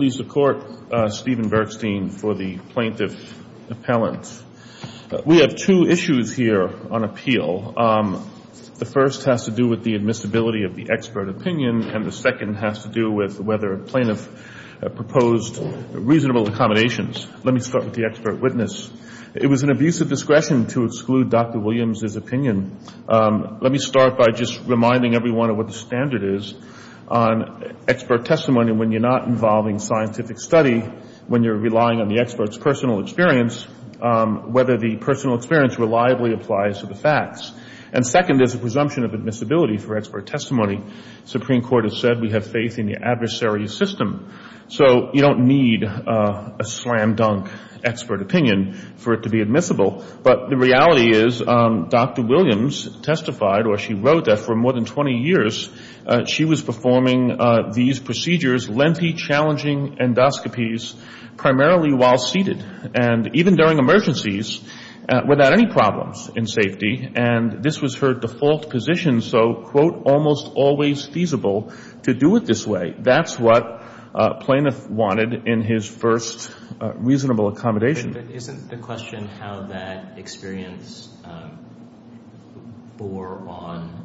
Please support Stephen Bergstein for the plaintiff appellant. We have two issues here on appeal. The first has to do with the admissibility of the expert opinion, and the second has to do with whether a plaintiff proposed reasonable accommodations. Let me start with the expert witness. It was an abuse of discretion to exclude Dr. Williams' opinion. Let me start by just reminding everyone of what the standard is on expert testimony when you're not involving scientific study, when you're relying on the expert's personal experience, whether the personal experience reliably applies to the facts. And second is a presumption of admissibility for expert testimony. The Supreme Court has said we have faith in the adversary's system. So you don't need a slam-dunk expert opinion for it to be admissible. But the reality is Dr. Williams testified, or she wrote that for more than 20 years she was performing these procedures, lengthy, challenging endoscopies, primarily while seated, and even during emergencies without any problems in safety. And this was her default position, so, quote, almost always feasible to do it this way. That's what a plaintiff wanted in his first reasonable accommodation. Isn't the question how that experience bore on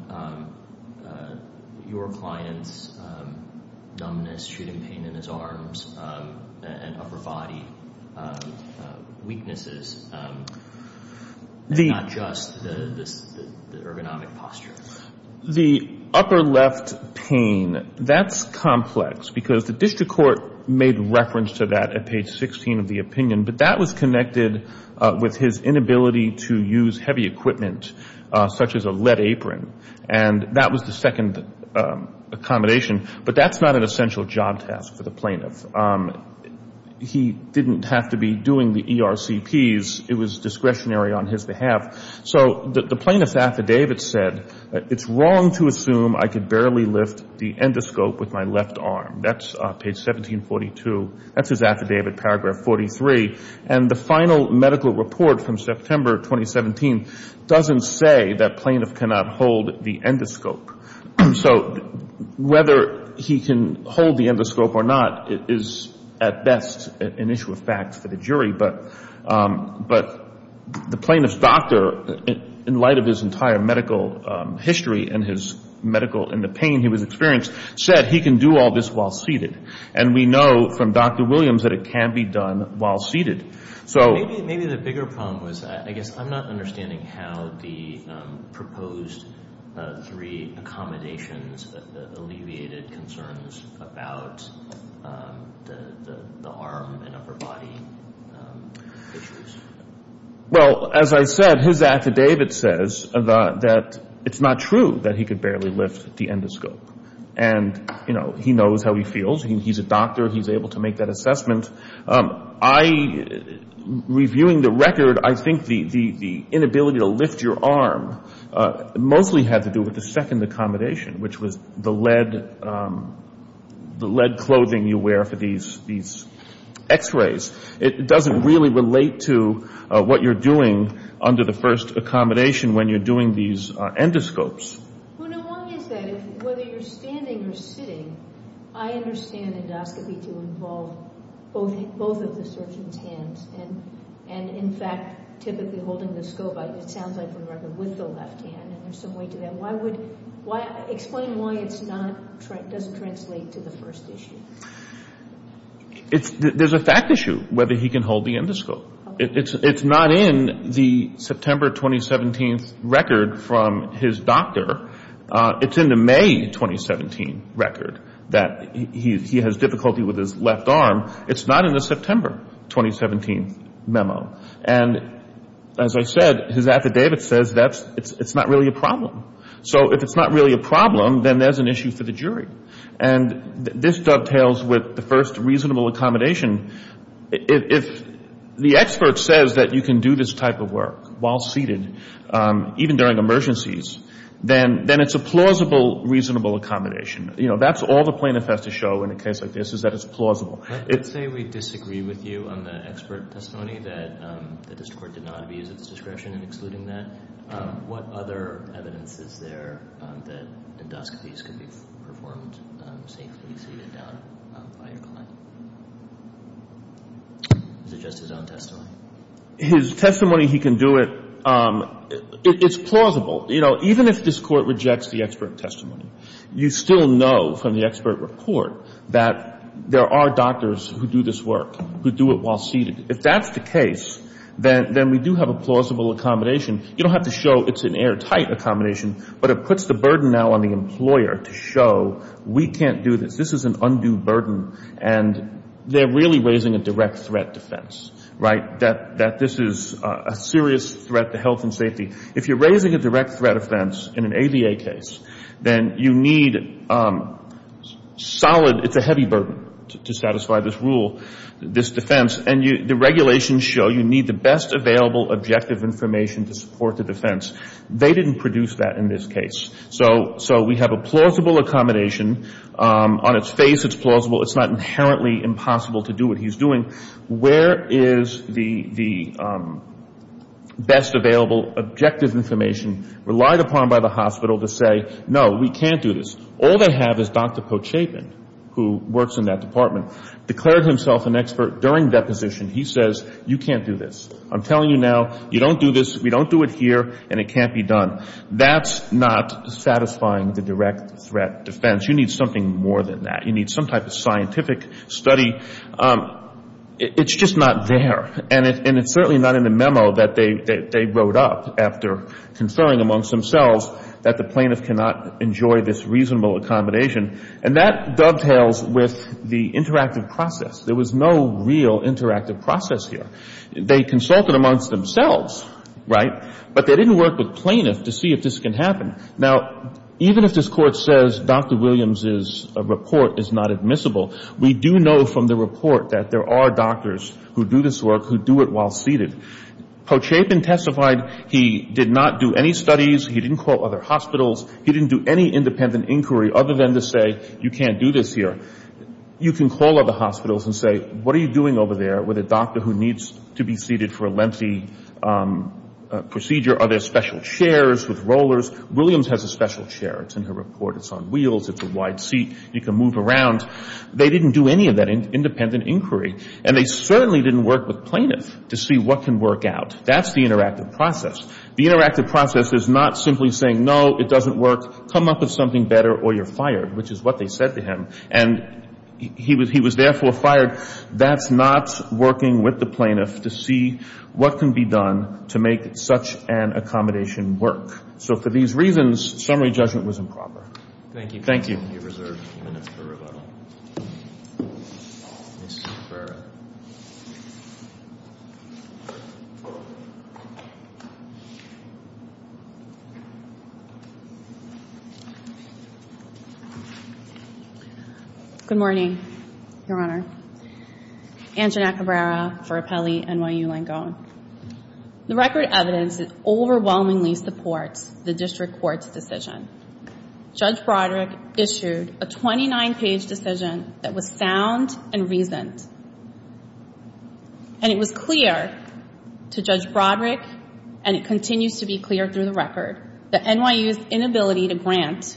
your client's experience as an expert of numbness, shooting pain in his arms, and upper body weaknesses, and not just the ergonomic posture? The upper left pain, that's complex because the district court made reference to that at page 16 of the opinion, but that was connected with his inability to use heavy equipment such as a lead apron. And that was the second accommodation. But that's not an essential job task for the plaintiff. He didn't have to be doing the ERCPs. It was discretionary on his behalf. So the plaintiff's affidavit said it's wrong to assume I could barely lift the endoscope with my left arm. That's page 1742. That's his affidavit, paragraph 43. And the final medical report from September 2017 doesn't say that plaintiff cannot hold the endoscope. So whether he can hold the endoscope or not is at best an issue of fact for the jury. But the plaintiff's doctor, in light of his entire medical history and his medical and the pain he was experiencing, said he can do all this while seated. And we know from Dr. Williams that it can be done while seated. So maybe the bigger problem was, I guess I'm not understanding how the proposed three accommodations alleviated concerns about the arm and upper body issues. Well as I said, his affidavit says that it's not true that he could barely lift the endoscope. And he knows how he feels. He's a doctor. He's able to make that assessment. Reviewing the record, I think the inability to lift your arm mostly had to do with the second accommodation, which was the lead clothing you wear for these X-rays. It doesn't really relate to what you're doing under the first accommodation when you're doing these endoscopes. Well, no, why is that? Whether you're standing or sitting, I understand endoscopy to involve both of the surgeon's hands. And in fact, typically holding the scope, it sounds like for the record, with the left hand. And there's some weight to that. Why would, explain why it's not, doesn't translate to the first issue. It's, there's a fact issue whether he can hold the endoscope. It's not in the September 2017 record from his doctor. It's in the May 2017 record that he has difficulty with his left arm. It's not in the September 2017 memo. And as I said, his affidavit says that it's not really a problem. So if it's not really a problem, then there's an issue for the jury. And this dovetails with the first reasonable accommodation. If the expert says that you can do this type of work while seated, even during emergencies, then it's a plausible reasonable accommodation. You know, that's all the plaintiff has to show in a case like this is that it's plausible. I would say we disagree with you on the expert testimony that the district court did not abuse its discretion in excluding that. What other evidence is there that endoscopies can be performed safely seated down by your client? Is it just his own testimony? His testimony, he can do it. It's plausible. You know, even if this court rejects the expert testimony, you still know from the expert report that there are doctors who do this work, who do it while seated. If that's the case, then we do have a plausible accommodation. You don't have to show it's an airtight accommodation, but it puts the burden now on the employer to show we can't do this. This is an undue burden. And they're really raising a direct threat defense, right, that this is a serious threat to health and safety. If you're raising a direct threat offense in an ABA case, then you need solid, it's a heavy burden to satisfy this rule, this defense. And the regulations show you need the best available objective information to support the defense. They didn't produce that in this case. So we have a plausible accommodation. On its face, it's plausible. It's not inherently impossible to do what he's doing. Where is the best available objective information relied upon by the hospital to say, no, we can't do this? All they have is Dr. Pochapin, who works in that department, declared himself an expert during deposition. He says, you can't do this. I'm telling you now, you don't do this, we don't do it here, and it can't be done. That's not satisfying the direct threat defense. You need something more than that. You need some type of study. It's just not there. And it's certainly not in the memo that they wrote up after conferring amongst themselves that the plaintiff cannot enjoy this reasonable accommodation. And that dovetails with the interactive process. There was no real interactive process here. They consulted amongst themselves, right, but they didn't work with plaintiff to see if this can happen. Now, even if this Court says Dr. Williams's report is not admissible, we do know from the report that there are doctors who do this work, who do it while seated. Pochapin testified he did not do any studies, he didn't call other hospitals, he didn't do any independent inquiry other than to say, you can't do this here. You can call other hospitals and say, what are you doing over there with a doctor who needs to be seated for a lengthy procedure? Are there special chairs with rollers? Williams has a special chair. It's in her report. It's on wheels, it's a wide seat, you can move around. They didn't do any of that independent inquiry. And they certainly didn't work with plaintiff to see what can work out. That's the interactive process. The interactive process is not simply saying, no, it doesn't work, come up with something better or you're fired, which is what they said to him. And he was therefore fired. That's not working with the plaintiff to see what can be done to make such an accommodation work. So for these reasons, summary judgment was improper. Thank you. Thank you. You're reserved a few minutes for rebuttal. Ms. Nakabara. Good morning, Your Honor. Angela Nakabara for Appellee NYU Langone. The record evidence overwhelmingly supports the district court's decision. Judge Broderick issued a 29-page decision that was sound and reasoned. And it was clear to Judge Broderick, and it continues to be clear through the record, that NYU's inability to grant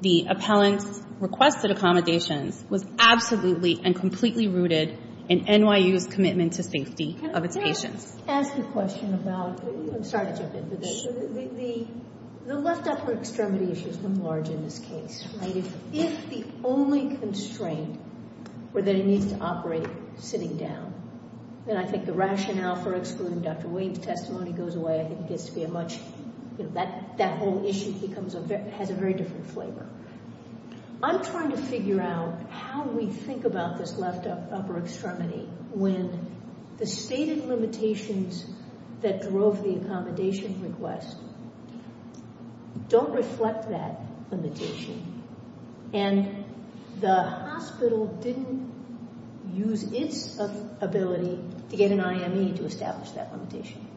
the appellant's requested accommodations was absolutely and completely rooted in NYU's commitment to safety of its patients. I'm sorry to jump in, but the left upper extremity issue has been large in this case. If the only constraint were that he needs to operate sitting down, then I think the rationale for excluding Dr. Wayne's testimony goes away. I think that whole issue has a very different flavor. I'm trying to figure out how we think about this left upper extremity when the stated limitations that drove the accommodation request don't reflect that limitation. And the hospital didn't use its ability to get an IME to establish that limitation.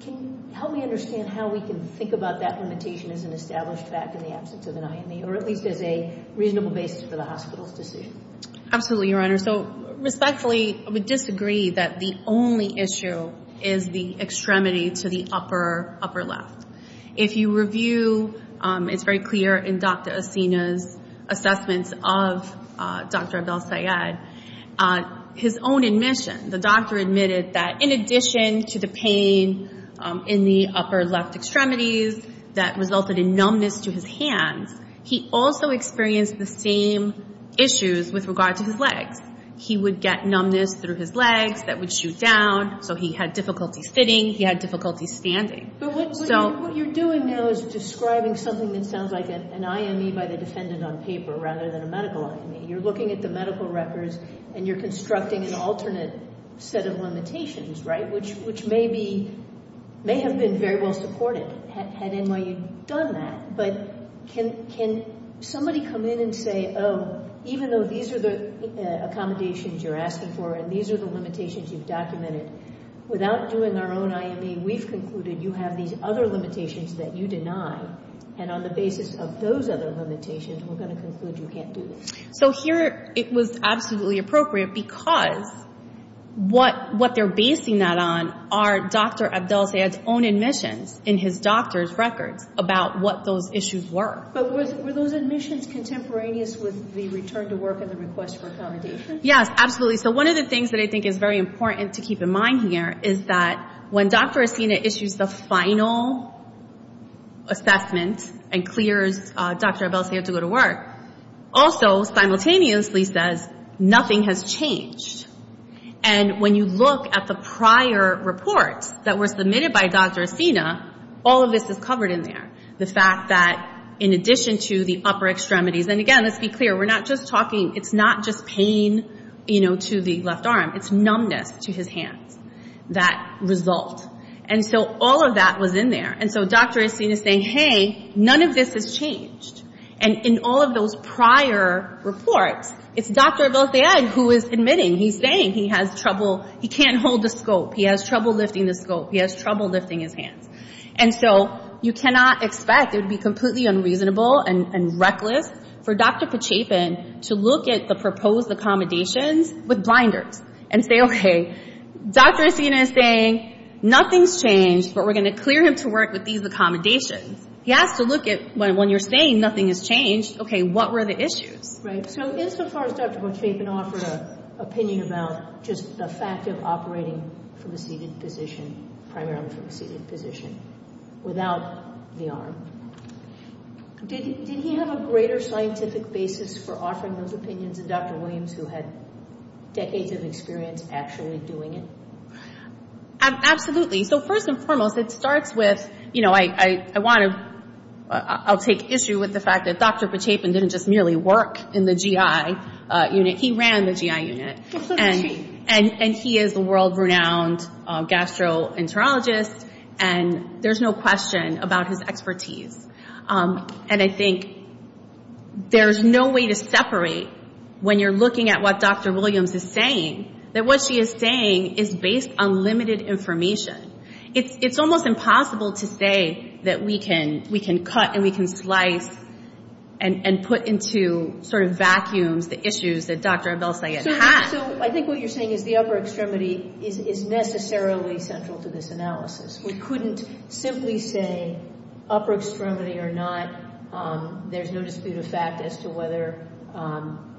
Can you help me understand how we can think about that limitation as an established fact in the absence of an IME, or at least as a reasonable basis for the hospital's decision? Absolutely, Your Honor. So respectfully, I would disagree that the only issue is the extremity to the upper left. If you review, it's very clear in Dr. Assina's assessments of Dr. Abel-Sayed, his own admission, the doctor admitted that in addition to the pain in the upper left extremities that resulted in numbness to his hands, he also experienced the same issues with regard to his legs. He would get numbness through his legs that would shoot down. So he had difficulties sitting. He had difficulties standing. But what you're doing now is describing something that sounds like an IME by the defendant on paper rather than a medical IME. You're looking at the medical records, and you're constructing an alternate set of limitations, right, which may have been very well supported had NYU done that. But can somebody come in and say, oh, even though these are the accommodations you're asking for and these are the limitations you've documented, without doing our own IME, we've concluded you have these other limitations that you deny. And on the basis of those other limitations, we're going to conclude you can't do this. So here it was absolutely appropriate because what they're basing that on are Dr. Abel-Sayed's own admissions in his doctor's records about what those issues were. But were those admissions contemporaneous with the return to work and the request for accommodation? Yes, absolutely. So one of the things that I think is very important to keep in mind here is that when Dr. Acina issues the final assessment and clears Dr. Abel-Sayed to go to work, also simultaneously says nothing has changed. And when you look at the prior reports that were submitted by Dr. Acina, all of this is covered in there. The fact that in addition to the upper extremities, and again, let's be clear, we're not just talking, it's not just pain, you know, to the upper extremities. So all of that was in there. And so Dr. Acina is saying, hey, none of this has changed. And in all of those prior reports, it's Dr. Abel-Sayed who is admitting, he's saying he has trouble, he can't hold the scope, he has trouble lifting the scope, he has trouble lifting his hands. And so you cannot expect, it would be completely unreasonable and reckless for Dr. Pachepin to look at the proposed accommodations with blinders and say, okay, Dr. Acina is saying nothing's changed, but we're going to clear him to work with these accommodations. He has to look at, when you're saying nothing has changed, okay, what were the issues? Right. So insofar as Dr. Pachepin offered an opinion about just the fact of operating from a seated position, primarily from a seated position, without the arm, did he have a greater scientific basis for offering those opinions than Dr. Williams who had decades of experience actually doing it? Absolutely. So first and foremost, it starts with, you know, I want to, I'll take issue with the fact that Dr. Pachepin didn't just merely work in the GI unit. He ran the GI unit. And he is a world-renowned gastroenterologist, and there's no question about his expertise. And I think there's no way to separate, when you're looking at what Dr. Williams is saying, that what she is saying is based on limited information. It's almost impossible to say that we can cut and we can slice and put into sort of vacuums the issues that Dr. Abel-Sayed had. So I think what you're saying is the upper extremity is necessarily central to this analysis. We couldn't simply say upper extremity or not. There's no dispute of fact as to whether an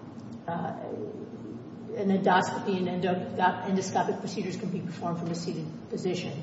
endoscopy or not is a good idea. I mean, endoscopic procedures can be performed from a seated position.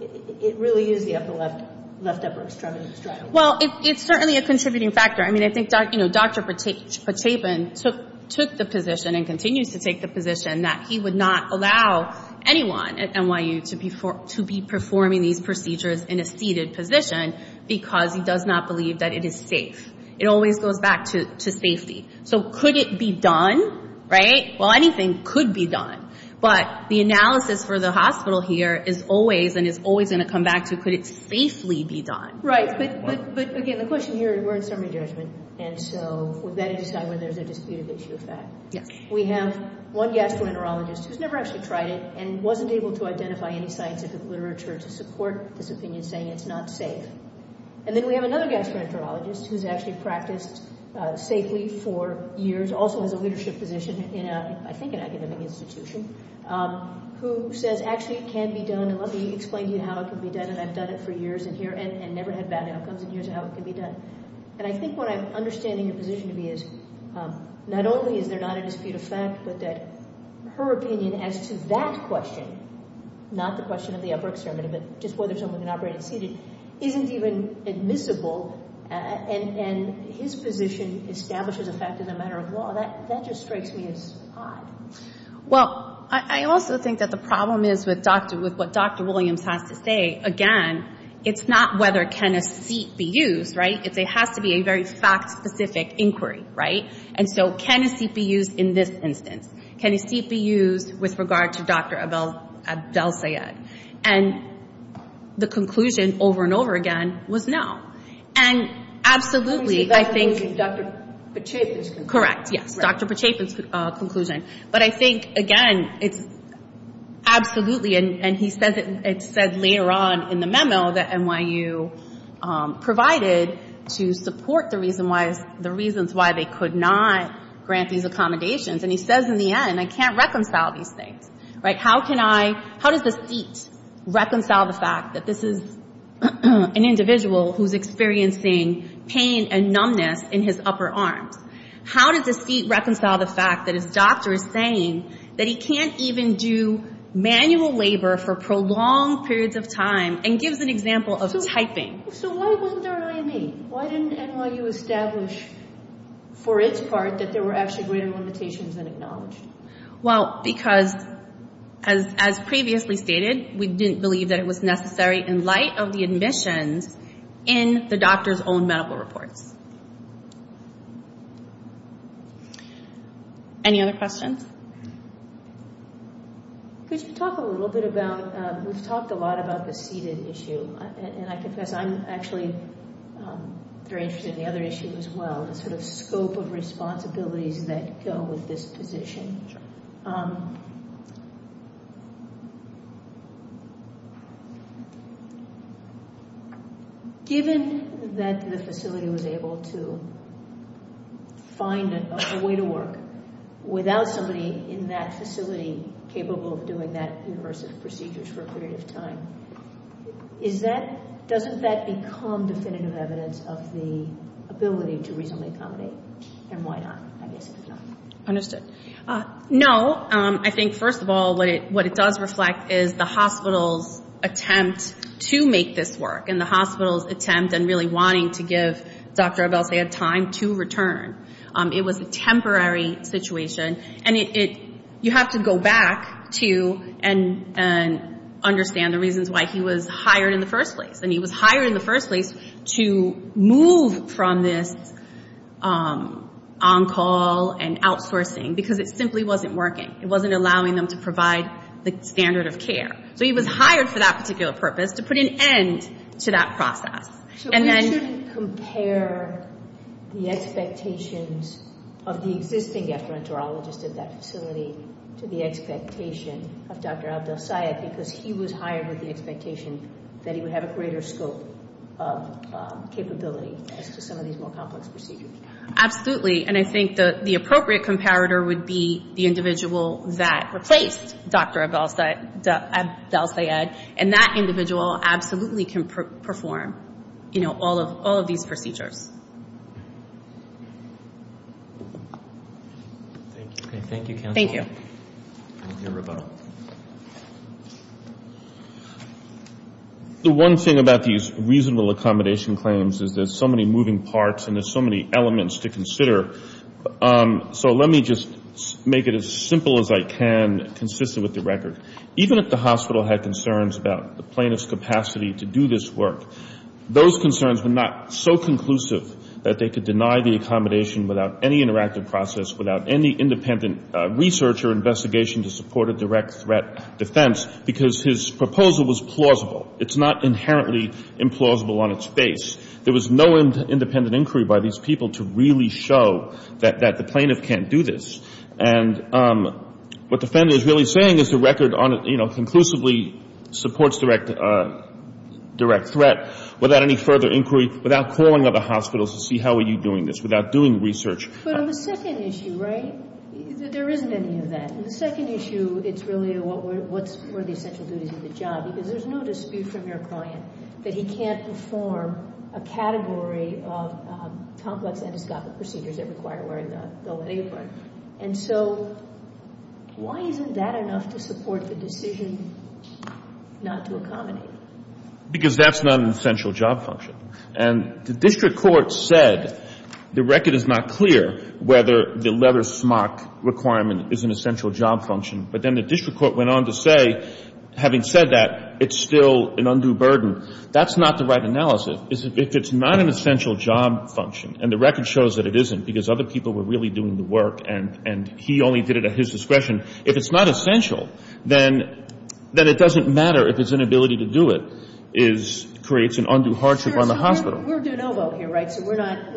It really is the upper left upper extremity. Well, it's certainly a contributing factor. I mean, I think Dr. Pachepin took the position and continues to take the position that he would not allow anyone at NYU to be performing these procedures in a seated position because he does not believe that it is safe. It always goes back to safety. So could it be done, right? Well, anything could be done. But the analysis for the hospital here is always and is always going to come back to could it safely be done. Right. But again, the question here, we're in summary judgment. And so we've got to decide whether there's a dispute of issue of fact. We have one gastroenterologist who's never actually tried it and wasn't able to identify any scientific literature to prove it. And then we have another gastroenterologist who's actually practiced safely for years, also has a leadership position in, I think, an academic institution, who says, actually, it can be done. And let me explain to you how it can be done. And I've done it for years in here and never had bad outcomes in years of how it can be done. And I think what I'm understanding your position to be is not only is there not a dispute of fact, but that her opinion as to that question, not the question of the fact, is even admissible. And his position establishes a fact as a matter of law. That just strikes me as odd. Well, I also think that the problem is with what Dr. Williams has to say. Again, it's not whether can a seat be used, right? It has to be a very fact-specific inquiry, right? And so can a seat be used in this instance? Can a seat be used with regard to Dr. Abdel-Sayed? And the conclusion, over and over again, was no. And absolutely, I think Dr. Pacheco's conclusion. Correct. Yes. Dr. Pacheco's conclusion. But I think, again, it's absolutely, and he said later on in the memo that NYU provided to support the reasons why they could not grant these accommodations. And he says in the end, I can't reconcile these things, right? How can I, how does this seat reconcile the fact that this is an individual who's experiencing pain and numbness in his upper arms? How does this seat reconcile the fact that his doctor is saying that he can't even do manual labor for prolonged periods of time and gives an example of typing? So why wasn't there an IME? Why didn't NYU establish, for its part, an IME? Because, as previously stated, we didn't believe that it was necessary in light of the admissions in the doctor's own medical reports. Any other questions? Could you talk a little bit about, we've talked a lot about the seated issue, and I confess I'm actually very interested in the other issue as well, the sort of scope of responsibilities that go with this position. Given that the facility was able to find a way to work without somebody in that facility capable of doing that university of procedures for a period of time, is that, doesn't that become definitive evidence of the ability to reasonably accommodate, and why not, I guess, if not? No. I think, first of all, what it does reflect is the hospital's attempt to make this work and the hospital's attempt and really wanting to give Dr. Abelsayed time to return. It was a temporary situation. And you have to go back to and understand the reasons why he was hired in the first place. And he was hired in the first place to move from this ongoing situation to a more long-call and outsourcing, because it simply wasn't working. It wasn't allowing them to provide the standard of care. So he was hired for that particular purpose, to put an end to that process. So we shouldn't compare the expectations of the existing ephemerologist at that facility to the expectation of Dr. Abelsayed, because he was hired with the expectation that he would have a greater scope of capability as to some of these more complex procedures. Absolutely. And I think the appropriate comparator would be the individual that replaced Dr. Abelsayed. And that individual absolutely can perform, you know, all of these procedures. Thank you. Thank you, counsel. Thank you. The one thing about these reasonable accommodation claims is there's so many moving parts and there's so many elements of the documents to consider. So let me just make it as simple as I can, consistent with the record. Even if the hospital had concerns about the plaintiff's capacity to do this work, those concerns were not so conclusive that they could deny the accommodation without any interactive process, without any independent research or investigation to support a direct threat defense, because his proposal was plausible. It's not plausible. It's not plausible to really show that the plaintiff can't do this. And what the defendant is really saying is the record on it, you know, conclusively supports direct threat without any further inquiry, without calling other hospitals to see how are you doing this, without doing research. But on the second issue, right, there isn't any of that. On the second issue, it's really what's for the essential duties of the job, because there's no dispute from your client that he can't perform a category of complex endoscopic procedures that require wearing the apron. And so why isn't that enough to support the decision not to accommodate? Because that's not an essential job function. And the district court said the record is not clear whether the leather smock requirement is an essential job function. But then the district court went on to say, having said that, it's still an undue burden. That's not the right analysis. If it's not an essential job function, and the record shows that it isn't because other people were really doing the work and he only did it at his discretion, if it's not essential, then it doesn't matter if his inability to do it creates an undue hardship on the hospital. We're do-no-vote here, right? So we're not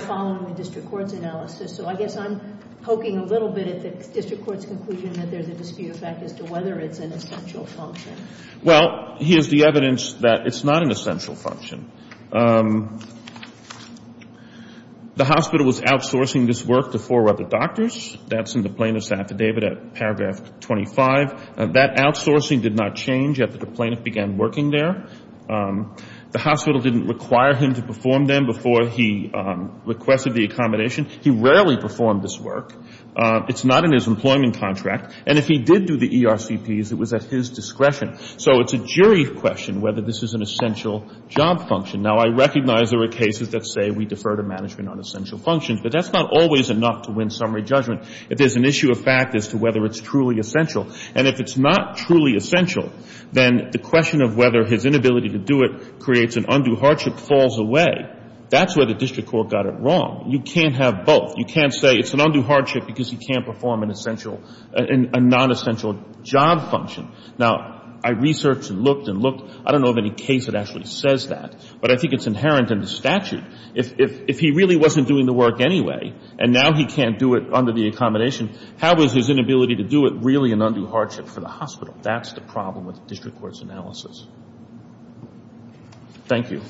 following the district court's analysis. So I guess I'm poking a little bit at the district court's conclusion that there's a dispute effect as to whether it's an essential function. Well, here's the evidence that it's not an essential function. The hospital was outsourcing this work to four other doctors. That's in the plaintiff's affidavit at paragraph 25. That outsourcing did not change after the plaintiff began working there. The hospital didn't require him to perform them before he requested the accommodation. He rarely performed this work. It's not in his employment contract. And if he did do the ERCPs, it was at his discretion. So it's a jury question whether this is an essential job function. Now, I recognize there are cases that say we defer to management on essential functions, but that's not always enough to win summary judgment. If there's an issue of fact as to whether it's truly essential, and if it's not truly essential, then the question of whether his inability to do it creates an undue hardship falls away. That's where the district court got it wrong. You can't have both. You can't say it's an undue hardship because he can't perform an essential, a non-essential job function. Now, the question is, how is his inability to do it really an undue hardship for the hospital? That's the problem with the district court's analysis. Thank you.